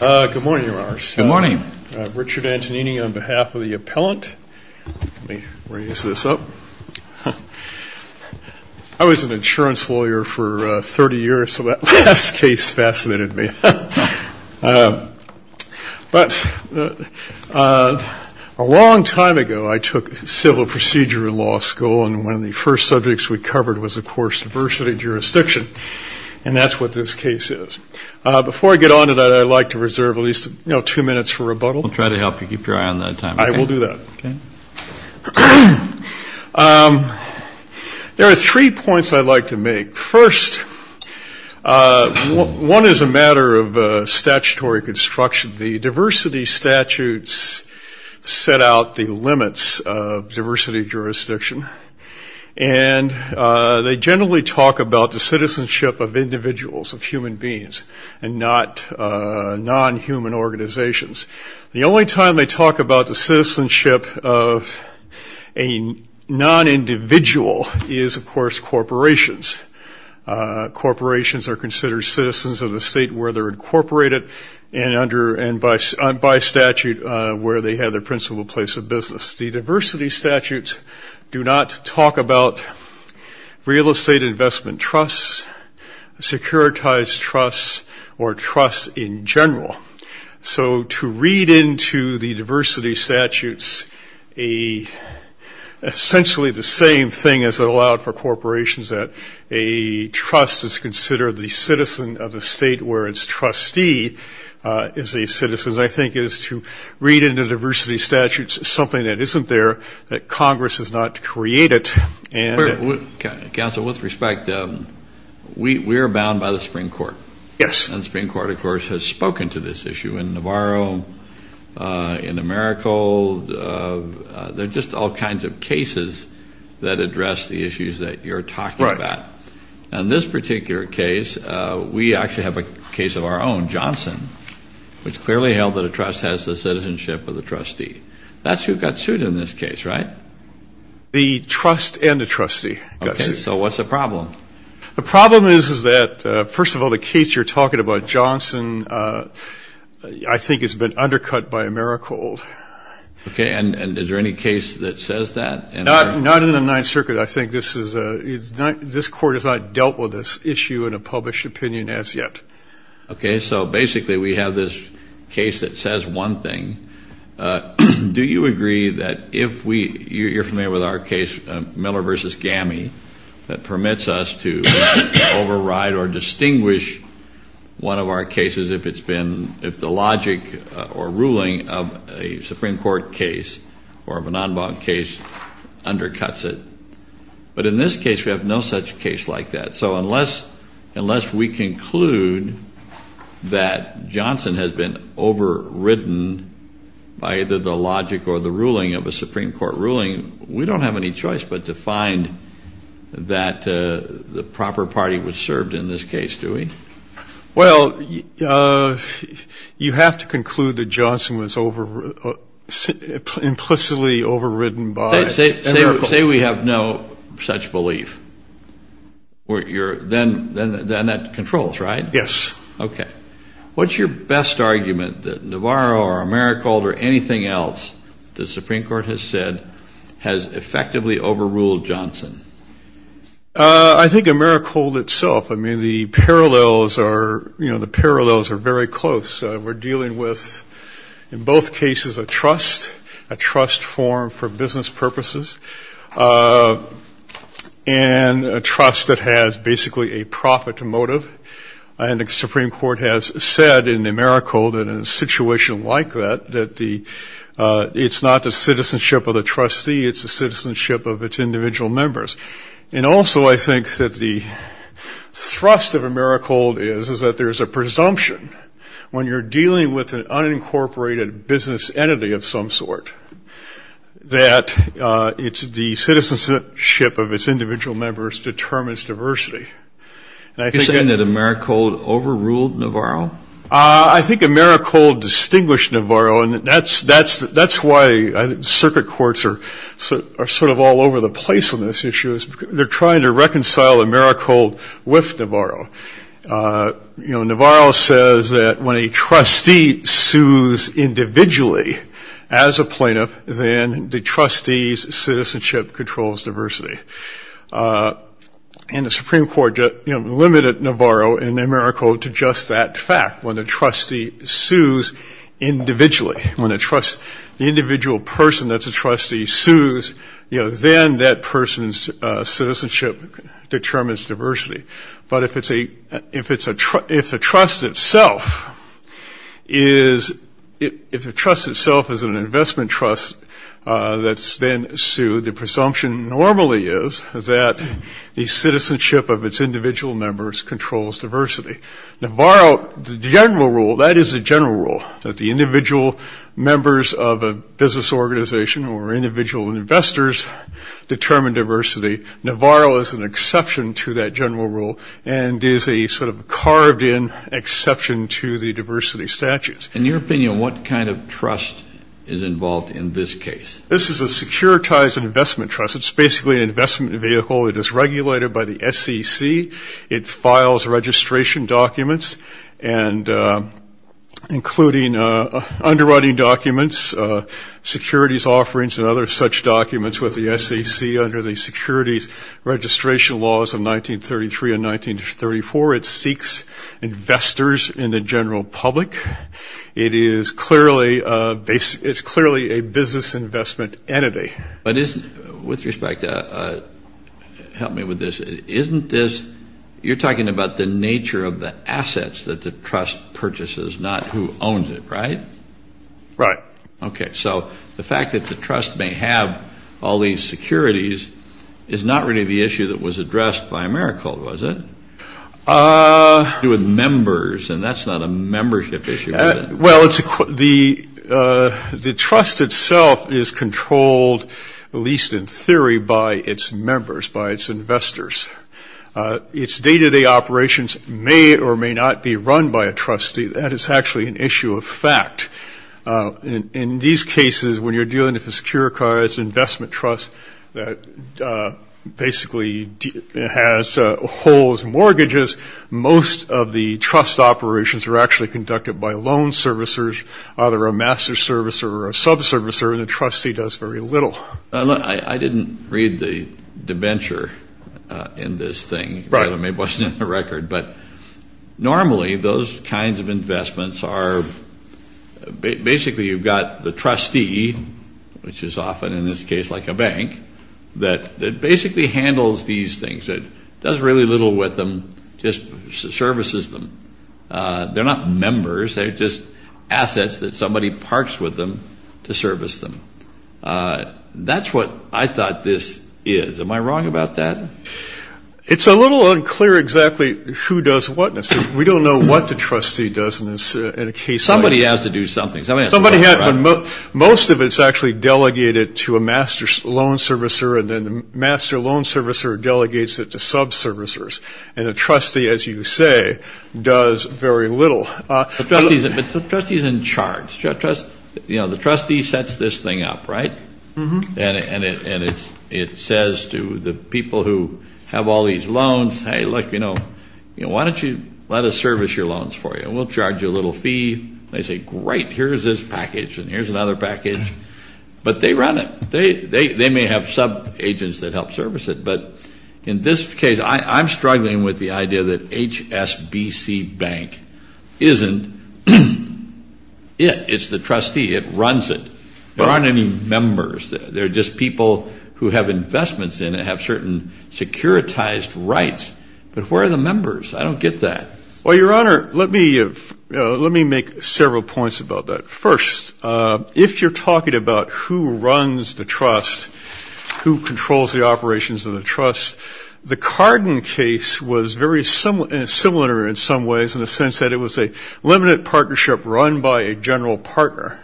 Good morning, Your Honors. Richard Antonini on behalf of the appellant. Let me raise this up. I was an insurance lawyer for 30 years, so that last case fascinated me. But a long time ago, I took civil procedure in law school, and one of the first subjects we covered was, of course, diversity and jurisdiction. And that's what this case is. Before I get on to that, I'd like to reserve at least two minutes for rebuttal. We'll try to help you keep your eye on that time. I will do that. There are three points I'd like to make. First, one is a matter of statutory construction. The diversity statutes set out the limits of diversity jurisdiction, and they generally talk about the citizenship of individuals, of human beings, and not non-human organizations. The only time they talk about the citizenship of a non-individual is, of course, corporations. Corporations are considered citizens of a state where they're incorporated, and by statute, where they have their principal place of business. The diversity statutes do not talk about real estate investment trusts, securitized trusts, or trusts in general. So to read into the diversity statutes essentially the same thing as it allowed for corporations, that a trust is considered the citizen of a state where its trustee is a citizen, I think, is to read into diversity statutes something that isn't there, that Congress has not created. Counsel, with respect, we're bound by the Supreme Court. Yes. And the Supreme Court, of course, has spoken to this issue in Navarro, in Americal. There are just all kinds of cases that address the issues that you're talking about. Right. And this particular case, we actually have a case of our own, Johnson, which clearly held that a trust has the citizenship of the trustee. That's who got sued in this case, right? The trust and the trustee got sued. Okay, so what's the problem? The problem is that, first of all, the case you're talking about, Johnson, I think has been undercut by Americal. Okay, and is there any case that says that? Not in the Ninth Circuit. I think this Court has not dealt with this issue in a published opinion as yet. Okay, so basically we have this case that says one thing. Do you agree that if we, you're familiar with our case, Miller v. Gammie, that permits us to override or distinguish one of our cases if it's been, if the logic or ruling of a Supreme Court case or of a non-bond case undercuts it? But in this case, we have no such case like that. So unless we conclude that Johnson has been overridden by either the logic or the ruling of a Supreme Court ruling, we don't have any choice but to find that the proper party was served in this case, do we? Well, you have to conclude that Johnson was implicitly overridden by Americal. Then that controls, right? Yes. Okay. What's your best argument that Navarro or Americal or anything else the Supreme Court has said has effectively overruled Johnson? I think Americal itself. I mean, the parallels are, you know, the parallels are very close. We're dealing with, in both cases, a trust, a trust form for business purposes, and a trust that has basically a profit motive. And the Supreme Court has said in Americal that in a situation like that, that the, it's not the citizenship of the trustee, it's the citizenship of its individual members. And also I think that the thrust of Americal is, is that there's a presumption when you're dealing with an unincorporated business entity of some sort, that it's the citizenship of its individual members determines diversity. Are you saying that Americal overruled Navarro? I think Americal distinguished Navarro, and that's, that's, that's why circuit courts are sort of all over the place on this issue. They're trying to reconcile Americal with Navarro. You know, Navarro says that when a trustee sues individually as a plaintiff, then the trustee's citizenship controls diversity. And the Supreme Court, you know, limited Navarro and Americal to just that fact. When a trustee sues individually, when a trust, the individual person that's a trustee sues, you know, then that person's citizenship determines diversity. But if it's a, if it's a, if a trust itself is, if a trust itself is an investment trust that's then sued, the presumption normally is, is that the citizenship of its individual members controls diversity. Navarro, the general rule, that is the general rule, that the individual members of a business organization or individual investors determine diversity. Navarro is an exception to that general rule and is a sort of carved in exception to the diversity statutes. In your opinion, what kind of trust is involved in this case? This is a securitized investment trust. It's basically an investment vehicle. It is regulated by the SEC. It files registration documents and including underwriting documents, securities offerings and other such documents with the SEC under the securities registration laws of 1933 and 1934. It seeks investors in the general public. It is clearly, it's clearly a business investment entity. But isn't, with respect, help me with this, isn't this, you're talking about the nature of the assets that the trust purchases, not who owns it, right? Right. Okay. So the fact that the trust may have all these securities is not really the issue that was addressed by AmeriCorps, was it? It had to do with members and that's not a membership issue, is it? Well, the trust itself is controlled, at least in theory, by its members, by its investors. Its day-to-day operations may or may not be run by a trustee. That is actually an issue of fact. In these cases, when you're dealing with a securitized investment trust that basically has holes and mortgages, most of the trust operations are actually conducted by loan servicers, either a master servicer or a subservicer, and the trustee does very little. I didn't read the debenture in this thing. Right. It wasn't in the record. But normally those kinds of investments are, basically you've got the trustee, which is often in this case like a bank, that basically handles these things, does really little with them, just services them. They're not members. They're just assets that somebody parks with them to service them. That's what I thought this is. Am I wrong about that? It's a little unclear exactly who does what. We don't know what the trustee does in a case like this. Somebody has to do something. Most of it is actually delegated to a master loan servicer, and then the master loan servicer delegates it to subservicers, and the trustee, as you say, does very little. But the trustee is in charge. The trustee sets this thing up, right? And it says to the people who have all these loans, hey, look, why don't you let us service your loans for you, and we'll charge you a little fee. They say, great, here's this package, and here's another package. But they run it. They may have subagents that help service it. But in this case, I'm struggling with the idea that HSBC Bank isn't it. It's the trustee. It runs it. There aren't any members. They're just people who have investments in it, have certain securitized rights. But where are the members? I don't get that. Well, Your Honor, let me make several points about that. First, if you're talking about who runs the trust, who controls the operations of the trust, the Cardin case was very similar in some ways in the sense that it was a limited partnership run by a general partner.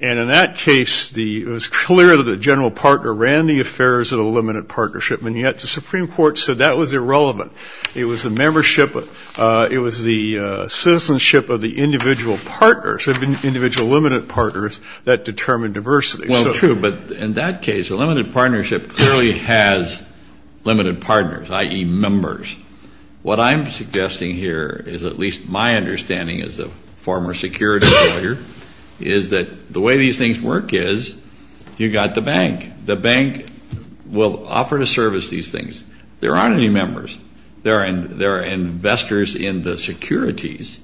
And in that case, it was clear that the general partner ran the affairs of the limited partnership, and yet the Supreme Court said that was irrelevant. It was the membership, it was the citizenship of the individual partners, the individual limited partners that determined diversity. Well, true, but in that case, a limited partnership clearly has limited partners, i.e., members. What I'm suggesting here is at least my understanding as a former security lawyer, is that the way these things work is you've got the bank. The bank will offer to service these things. There aren't any members. There are investors in the securities.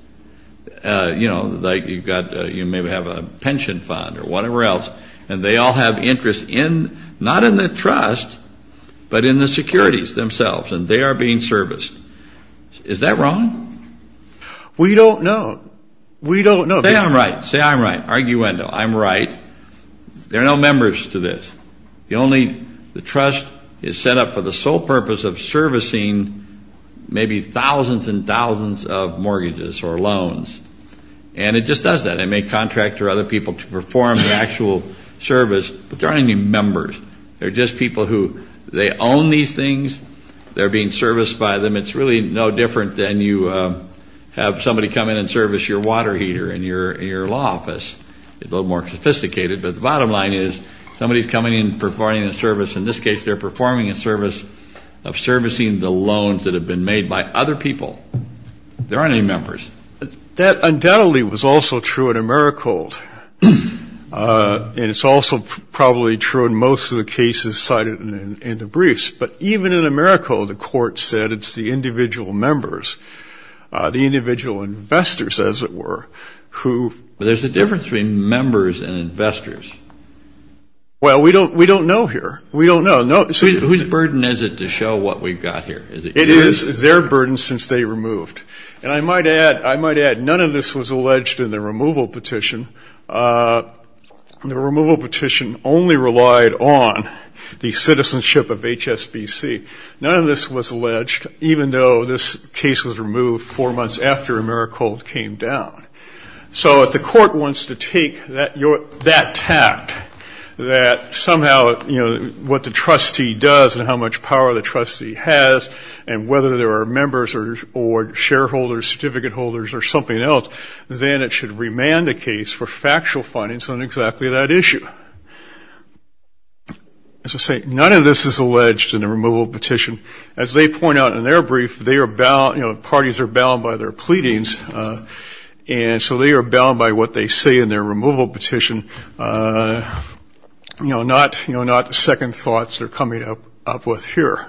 You know, like you've got, you may have a pension fund or whatever else, and they all have interest in, not in the trust, but in the securities themselves, and they are being serviced. Is that wrong? We don't know. We don't know. Say I'm right. Say I'm right. Arguendo. I'm right. There are no members to this. The trust is set up for the sole purpose of servicing maybe thousands and thousands of mortgages or loans. And it just does that. It may contract to other people to perform the actual service, but there aren't any members. They're just people who, they own these things. They're being serviced by them. It's really no different than you have somebody come in and service your water heater in your law office. It's a little more sophisticated. But the bottom line is somebody's coming in and performing a service. In this case, they're performing a service of servicing the loans that have been made by other people. There aren't any members. That undoubtedly was also true at Americold. And it's also probably true in most of the cases cited in the briefs. But even in Americold, the court said it's the individual members, the individual investors, as it were, who. But there's a difference between members and investors. Well, we don't know here. We don't know. Whose burden is it to show what we've got here? It is their burden since they removed. And I might add, none of this was alleged in the removal petition. The removal petition only relied on the citizenship of HSBC. None of this was alleged, even though this case was removed four months after Americold came down. So if the court wants to take that tact that somehow, you know, what the trustee does and how much power the trustee has and whether there are members or shareholders, certificate holders or something else, then it should remand the case for factual findings on exactly that issue. As I say, none of this is alleged in the removal petition. As they point out in their brief, they are bound, you know, parties are bound by their pleadings. And so they are bound by what they say in their removal petition, you know, not second thoughts they're coming up with here.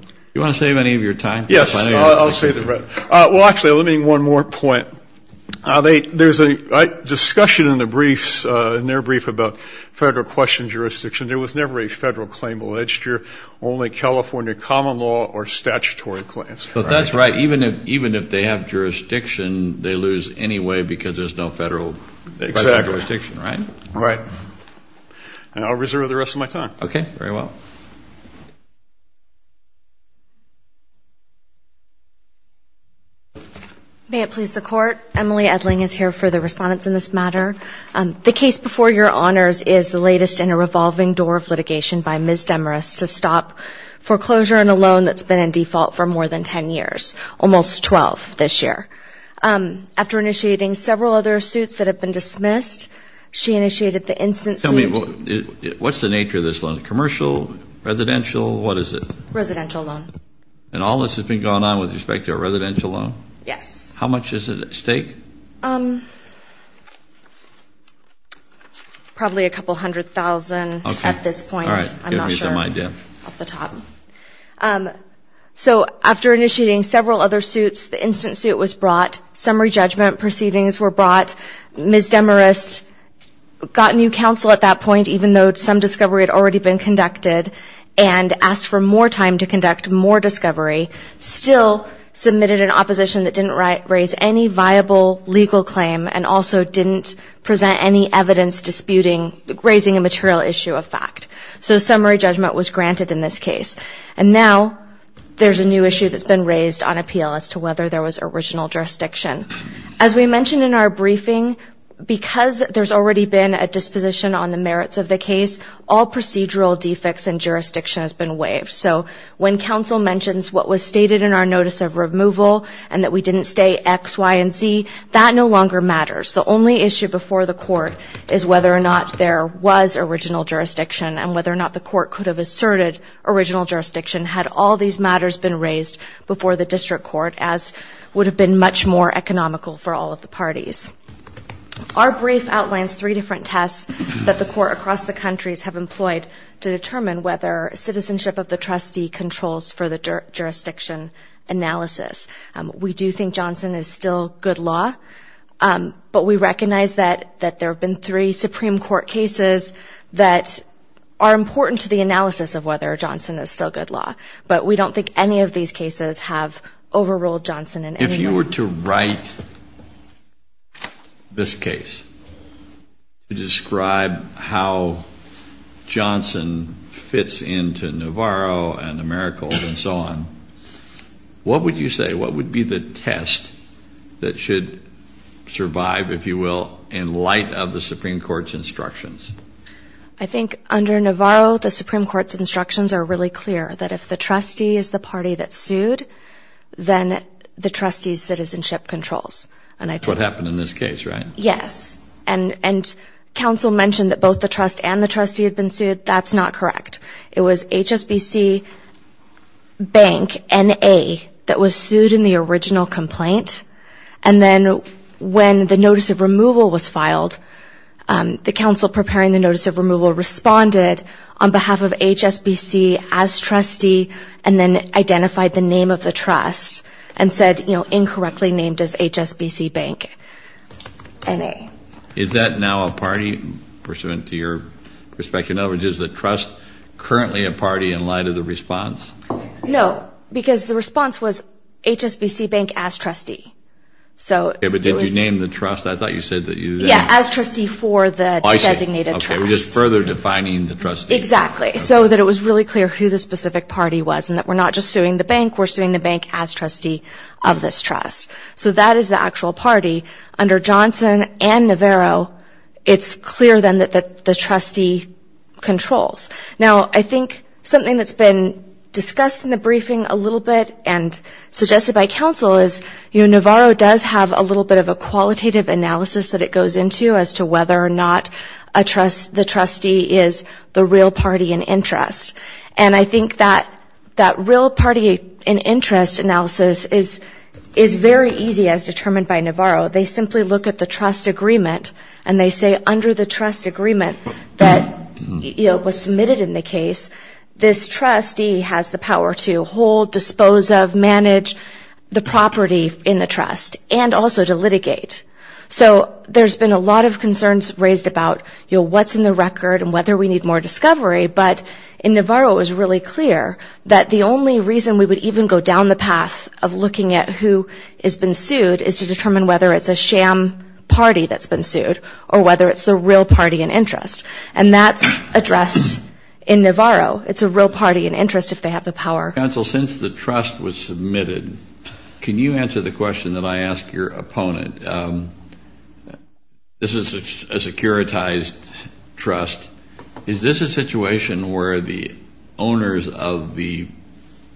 Do you want to save any of your time? Yes, I'll save the rest. Well, actually, let me make one more point. There's a discussion in the briefs, in their brief about federal question jurisdiction. There was never a federal claim alleged here. Only California common law or statutory claims. But that's right. Even if they have jurisdiction, they lose anyway because there's no federal jurisdiction, right? Right. And I'll reserve the rest of my time. Okay. Very well. May it please the Court. Emily Edling is here for the response in this matter. The case before your honors is the latest in a revolving door of litigation by Ms. Demarest to stop foreclosure in a loan that's been in default for more than 10 years, almost 12 this year. After initiating several other suits that have been dismissed, she initiated the instant suit. Tell me, what's the nature of this loan? Commercial, residential, what is it? Residential loan. And all this has been going on with respect to a residential loan? Yes. How much is it at stake? Probably a couple hundred thousand at this point. Okay. All right. Give me some idea. I'm not sure. Off the top. So after initiating several other suits, the instant suit was brought. Summary judgment proceedings were brought. Ms. Demarest got new counsel at that point, even though some discovery had already been conducted, and asked for more time to conduct more discovery, still submitted an opposition that didn't raise any viable legal claim and also didn't present any evidence disputing raising a material issue of fact. So summary judgment was granted in this case. And now there's a new issue that's been raised on appeal as to whether there was original jurisdiction. As we mentioned in our briefing, because there's already been a disposition on the merits of the case, all procedural defects in jurisdiction has been waived. So when counsel mentions what was stated in our notice of removal and that we didn't stay X, Y, and Z, that no longer matters. The only issue before the court is whether or not there was original jurisdiction and whether or not the court could have asserted original jurisdiction had all these matters been raised before the district court, as would have been much more economical for all of the parties. Our brief outlines three different tests that the court across the countries have employed to determine whether citizenship of the trustee controls for the jurisdiction analysis. We do think Johnson is still good law, but we recognize that there have been three Supreme Court cases that are important to the analysis of whether Johnson is still good law. But we don't think any of these cases have overruled Johnson in any way. If you were to write this case to describe how Johnson fits into Navarro and Americal and so on, what would you say, what would be the test that should survive, if you will, in light of the Supreme Court's instructions? I think under Navarro, the Supreme Court's instructions are really clear, that if the trustee is the party that sued, then the trustee's citizenship controls. That's what happened in this case, right? Yes. And counsel mentioned that both the trust and the trustee had been sued. That's not correct. It was HSBC Bank N.A. that was sued in the original complaint. And then when the notice of removal was filed, the counsel preparing the notice of removal responded on behalf of HSBC as trustee and then identified the name of the trust and said, you know, incorrectly named as HSBC Bank N.A. Is that now a party pursuant to your perspective? In other words, is the trust currently a party in light of the response? No, because the response was HSBC Bank as trustee. Okay, but did you name the trust? I thought you said that you then. Yeah, as trustee for the designated trust. Oh, I see. Okay, we're just further defining the trustee. Exactly, so that it was really clear who the specific party was and that we're not just suing the bank, we're suing the bank as trustee of this trust. So that is the actual party. Under Johnson and Navarro, it's clear then that the trustee controls. Now, I think something that's been discussed in the briefing a little bit and suggested by counsel is, you know, Navarro does have a little bit of a qualitative analysis that it goes into as to whether or not the trustee is the real party in interest. And I think that that real party in interest analysis is very easy as determined by Navarro. They simply look at the trust agreement and they say, under the trust agreement that was submitted in the case, this trustee has the power to hold, dispose of, manage the property in the trust, and also to litigate. So there's been a lot of concerns raised about, you know, what's in the record and whether we need more discovery, but in Navarro it was really clear that the only reason we would even go down the path of looking at who has been sued is to determine whether it's a sham party that's been sued or whether it's the real party in interest. And that's addressed in Navarro. It's a real party in interest if they have the power. Counsel, since the trust was submitted, can you answer the question that I asked your opponent? This is a securitized trust. Is this a situation where the owners of the,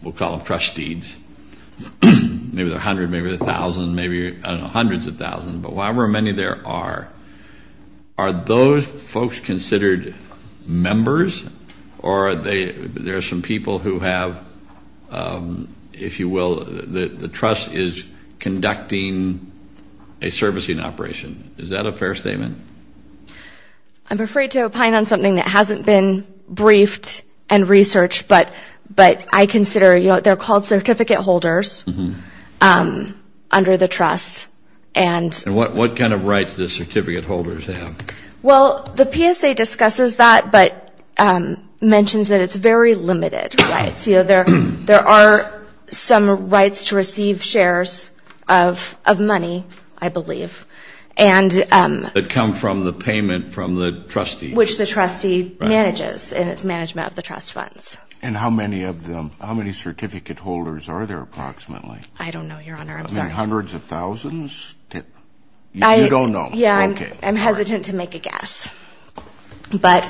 we'll call them trustees, maybe there are hundreds, maybe there are thousands, maybe, I don't know, hundreds of thousands, but however many there are, are those folks considered members or are there some people who have, if you will, the trust is conducting a servicing operation? Is that a fair statement? I'm afraid to opine on something that hasn't been briefed and researched, but I consider, you know, they're called certificate holders under the trust. And what kind of rights do certificate holders have? Well, the PSA discusses that but mentions that it's very limited rights. You know, there are some rights to receive shares of money, I believe. That come from the payment from the trustees. Which the trustee manages in its management of the trust funds. And how many of them, how many certificate holders are there approximately? I don't know, Your Honor. I'm sorry. Maybe hundreds of thousands? You don't know? Yeah, I'm hesitant to make a guess. But.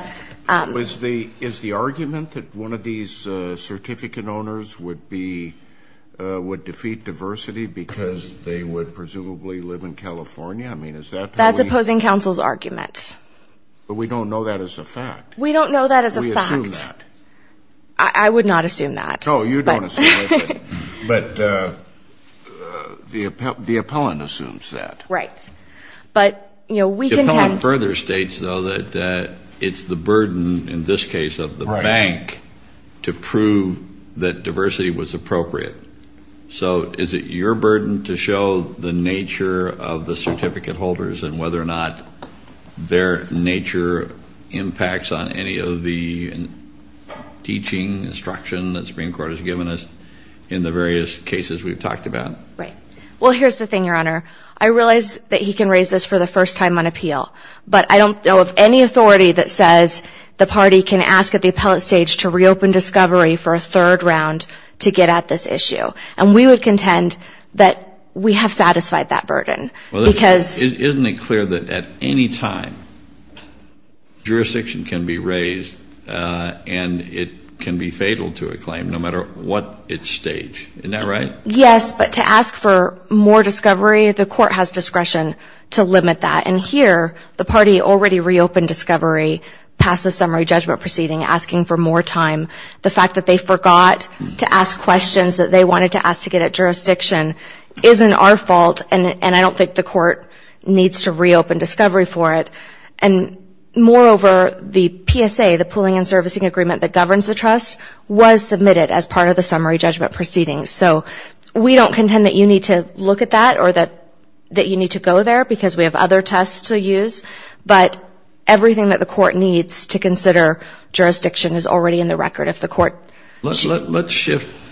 Is the argument that one of these certificate owners would be, would defeat diversity because they would presumably live in California? I mean, is that? That's opposing counsel's argument. But we don't know that as a fact. We don't know that as a fact. We assume that. I would not assume that. Oh, you don't assume it. But the appellant assumes that. Right. But, you know, we contend. The appellant further states, though, that it's the burden, in this case of the bank, to prove that diversity was appropriate. So is it your burden to show the nature of the certificate holders and whether or not their nature impacts on any of the teaching, instruction, that the Supreme Court has given us in the various cases we've talked about? Right. Well, here's the thing, Your Honor. I realize that he can raise this for the first time on appeal. But I don't know of any authority that says the party can ask at the appellate stage to reopen discovery for a third round to get at this issue. And we would contend that we have satisfied that burden. Isn't it clear that at any time jurisdiction can be raised and it can be fatal to a claim no matter what its stage? Isn't that right? Yes. But to ask for more discovery, the court has discretion to limit that. And here the party already reopened discovery past the summary judgment proceeding, asking for more time. The fact that they forgot to ask questions that they wanted to ask to get at jurisdiction isn't our fault, and I don't think the court needs to reopen discovery for it. And moreover, the PSA, the pooling and servicing agreement that governs the trust, was submitted as part of the summary judgment proceeding. So we don't contend that you need to look at that or that you need to go there because we have other tests to use. But everything that the court needs to consider jurisdiction is already in the record. Let's shift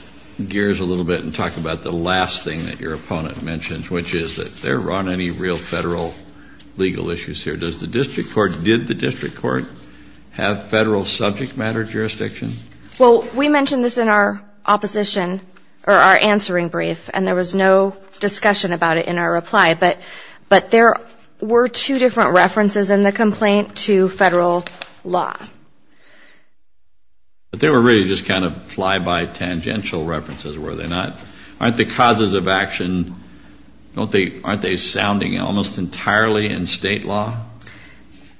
gears a little bit and talk about the last thing that your opponent mentioned, which is that there aren't any real federal legal issues here. Did the district court have federal subject matter jurisdiction? Well, we mentioned this in our opposition, or our answering brief, and there was no discussion about it in our reply. But there were two different references in the complaint to federal law. But they were really just kind of fly-by tangential references, were they not? Aren't the causes of action, aren't they sounding almost entirely in state law?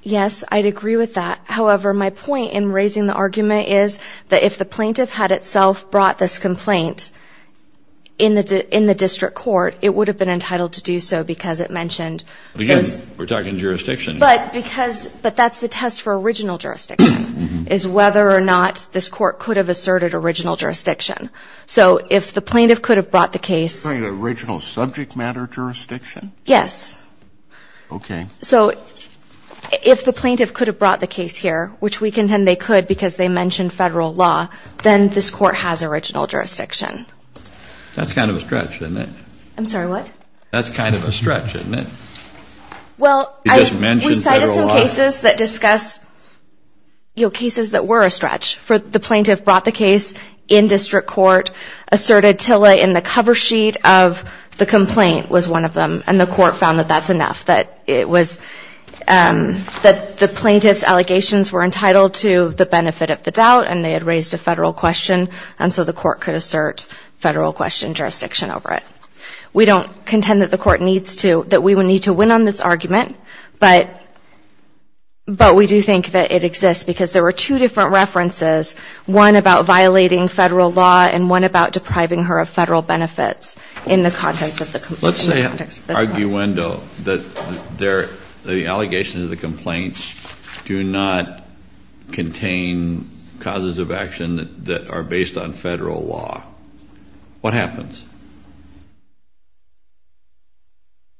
Yes, I'd agree with that. However, my point in raising the argument is that if the plaintiff had itself brought this complaint in the district court, it would have been entitled to do so because it mentioned. Again, we're talking jurisdiction. But that's the test for original jurisdiction, is whether or not this court could have asserted original jurisdiction. So if the plaintiff could have brought the case. You're talking about original subject matter jurisdiction? Yes. Okay. So if the plaintiff could have brought the case here, which we contend they could because they mentioned federal law, then this court has original jurisdiction. That's kind of a stretch, isn't it? I'm sorry, what? That's kind of a stretch, isn't it? Well, we cited some cases that discuss cases that were a stretch. The plaintiff brought the case in district court, asserted TILA in the cover sheet of the complaint was one of them, and the court found that that's enough, that the plaintiff's allegations were entitled to the benefit of the doubt and they had raised a federal question, and so the court could assert federal question jurisdiction over it. We don't contend that the court needs to, that we would need to win on this argument, but we do think that it exists because there were two different references, one about violating federal law and one about depriving her of federal benefits in the context of the complaint. Let's say, arguendo, that the allegations of the complaints do not contain causes of action that are based on federal law. What happens?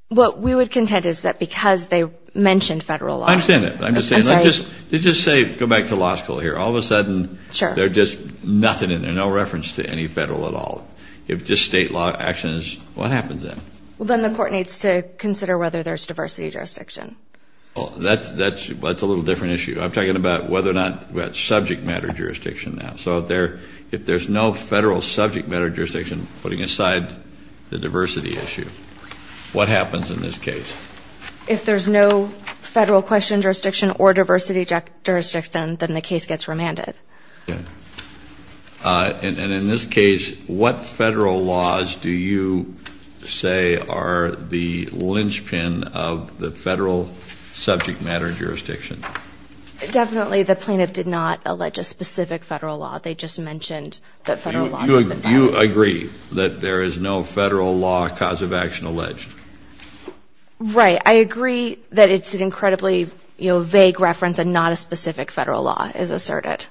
What we would contend is that because they mentioned federal law. I understand that. I'm just saying, let's just say, go back to law school here. All of a sudden, there's just nothing in there, no reference to any federal at all. If just state law action is, what happens then? Well, then the court needs to consider whether there's diversity jurisdiction. Well, that's a little different issue. I'm talking about whether or not we have subject matter jurisdiction now. So if there's no federal subject matter jurisdiction, putting aside the diversity issue, what happens in this case? If there's no federal question jurisdiction or diversity jurisdiction, then the case gets remanded. Okay. And in this case, what federal laws do you say are the linchpin of the federal subject matter jurisdiction? Definitely the plaintiff did not allege a specific federal law. You agree that there is no federal law cause of action alleged? Right. I agree that it's an incredibly vague reference and not a specific federal law is asserted.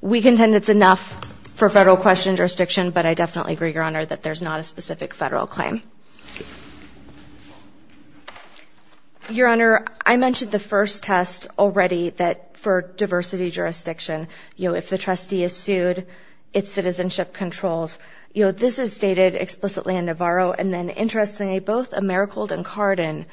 We contend it's enough for federal question jurisdiction, but I definitely agree, Your Honor, that there's not a specific federal claim. Your Honor, I mentioned the first test already that for diversity jurisdiction, if the trustee is sued, its citizenship controls. This is stated explicitly in Navarro, and then interestingly both Americhold and Cardin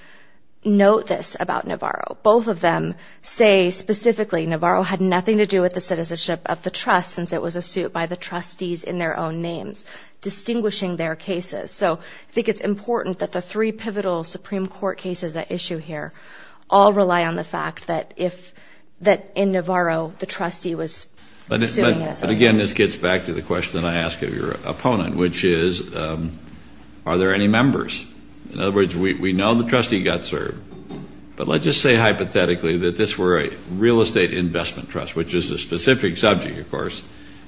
note this about Navarro. Both of them say specifically Navarro had nothing to do with the citizenship of the trust since it was a suit by the trustees in their own names, distinguishing their cases. So I think it's important that the three pivotal Supreme Court cases at issue here all rely on the fact that in Navarro the trustee was suing. But again, this gets back to the question I asked of your opponent, which is are there any members? In other words, we know the trustee got served, but let's just say hypothetically that this were a real estate investment trust, which is a specific subject, of course,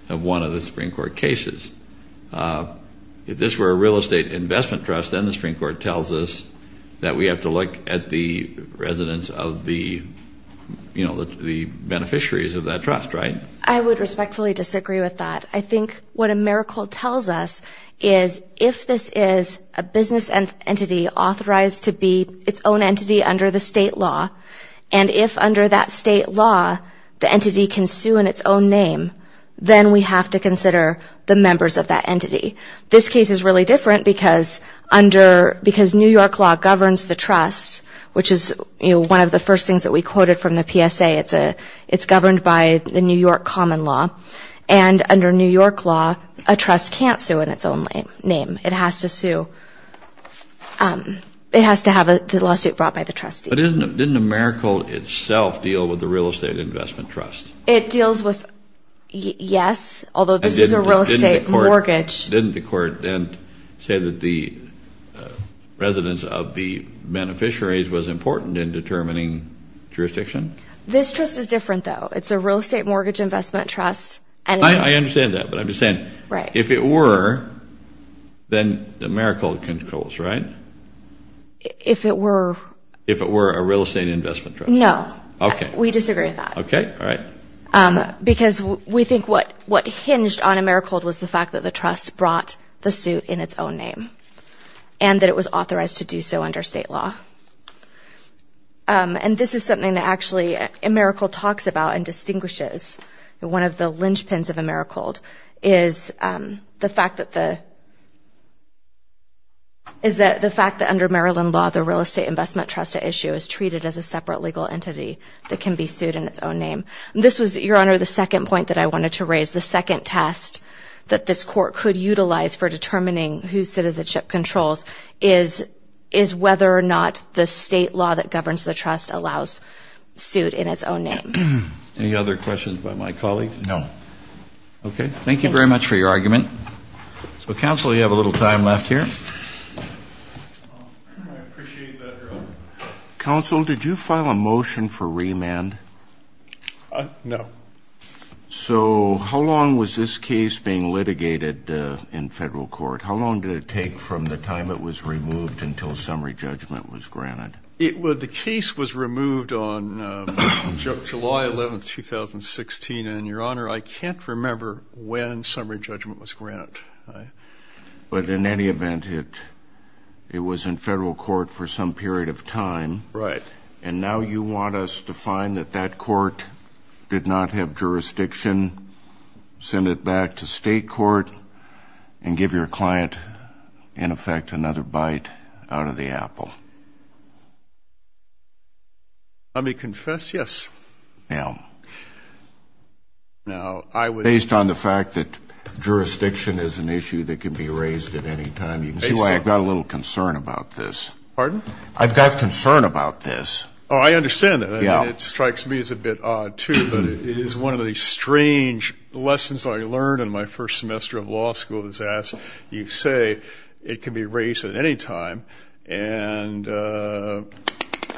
of one of the Supreme Court cases. If this were a real estate investment trust, then the Supreme Court tells us that we have to look at the residents of the beneficiaries of that trust, right? I would respectfully disagree with that. I think what Americhold tells us is if this is a business entity authorized to be its own entity under the state law, and if under that state law the entity can sue in its own name, then we have to consider the members of that entity. This case is really different because New York law governs the trust, which is one of the first things that we quoted from the PSA. It's governed by the New York common law. And under New York law, a trust can't sue in its own name. It has to sue. It has to have the lawsuit brought by the trustee. But didn't Americhold itself deal with the real estate investment trust? It deals with, yes, although this is a real estate mortgage. Didn't the court then say that the residents of the beneficiaries was important in determining jurisdiction? This trust is different, though. It's a real estate mortgage investment trust. I understand that, but I'm just saying if it were, then Americhold controls, right? If it were. If it were a real estate investment trust. Okay. We disagree with that. Okay, all right. Because we think what hinged on Americhold was the fact that the trust brought the suit in its own name and that it was authorized to do so under state law. And this is something that actually Americhold talks about and distinguishes. One of the linchpins of Americhold is the fact that the fact that under Maryland law, the real estate investment trust at issue is treated as a separate legal entity that can be sued in its own name. And this was, Your Honor, the second point that I wanted to raise, the second test that this court could utilize for determining who citizenship controls is whether or not the state law that governs the trust allows suit in its own name. Any other questions by my colleagues? No. Okay. Thank you very much for your argument. So, counsel, you have a little time left here. I appreciate that, Your Honor. Counsel, did you file a motion for remand? No. So how long was this case being litigated in federal court? How long did it take from the time it was removed until summary judgment was granted? The case was removed on July 11, 2016, and, Your Honor, I can't remember when summary judgment was granted. But in any event, it was in federal court for some period of time. Right. And now you want us to find that that court did not have jurisdiction, send it back to state court, and give your client, in effect, another bite out of the apple. Let me confess, yes. Now, based on the fact that jurisdiction is an issue that can be raised at any time, you can see why I've got a little concern about this. Pardon? I've got concern about this. Oh, I understand that. It strikes me as a bit odd, too, but it is one of the strange lessons I learned in my first semester of law school. You say it can be raised at any time, and, I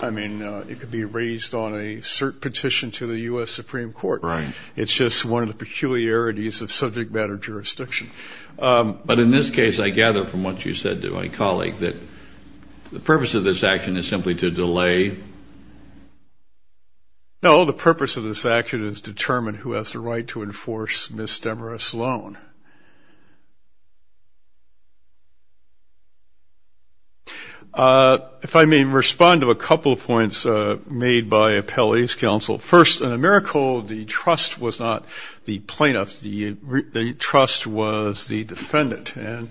mean, it could be raised on a cert petition to the U.S. Supreme Court. Right. It's just one of the peculiarities of subject matter jurisdiction. But in this case, I gather from what you said to my colleague that the purpose of this action is simply to delay? No, the purpose of this action is to determine who has the right to enforce Ms. Demarest's loan. If I may respond to a couple of points made by appellee's counsel. First, in AmeriCorps, the trust was not the plaintiff. The trust was the defendant, and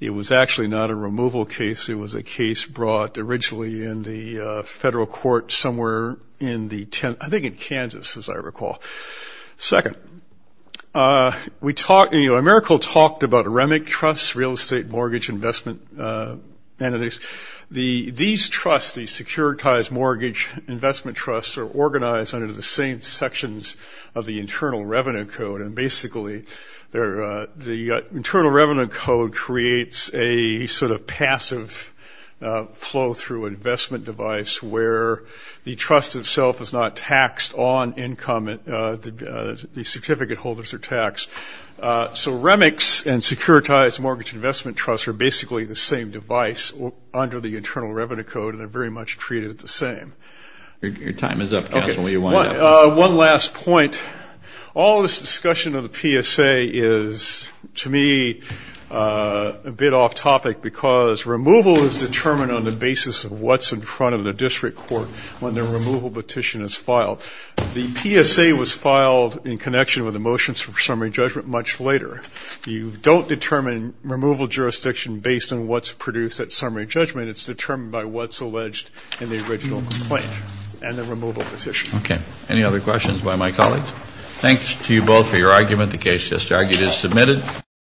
it was actually not a removal case. It was a case brought originally in the federal court somewhere in the 10th, I think in Kansas, as I recall. Second, AmeriCorps talked about REMIC trusts, real estate mortgage investment entities. These trusts, these securitized mortgage investment trusts, are organized under the same sections of the Internal Revenue Code, and basically the Internal Revenue Code creates a sort of passive flow through an investment device where the trust itself is not taxed on income. The certificate holders are taxed. So REMICs and securitized mortgage investment trusts are basically the same device under the Internal Revenue Code, and they're very much treated the same. Your time is up, counsel. One last point. All this discussion of the PSA is, to me, a bit off topic because removal is determined on the basis of what's in front of the district court when the removal petition is filed. The PSA was filed in connection with the motions for summary judgment much later. You don't determine removal jurisdiction based on what's produced at summary judgment. It's determined by what's alleged in the original complaint and the removal petition. Okay. Any other questions by my colleagues? Thanks to you both for your argument. The case just argued is submitted.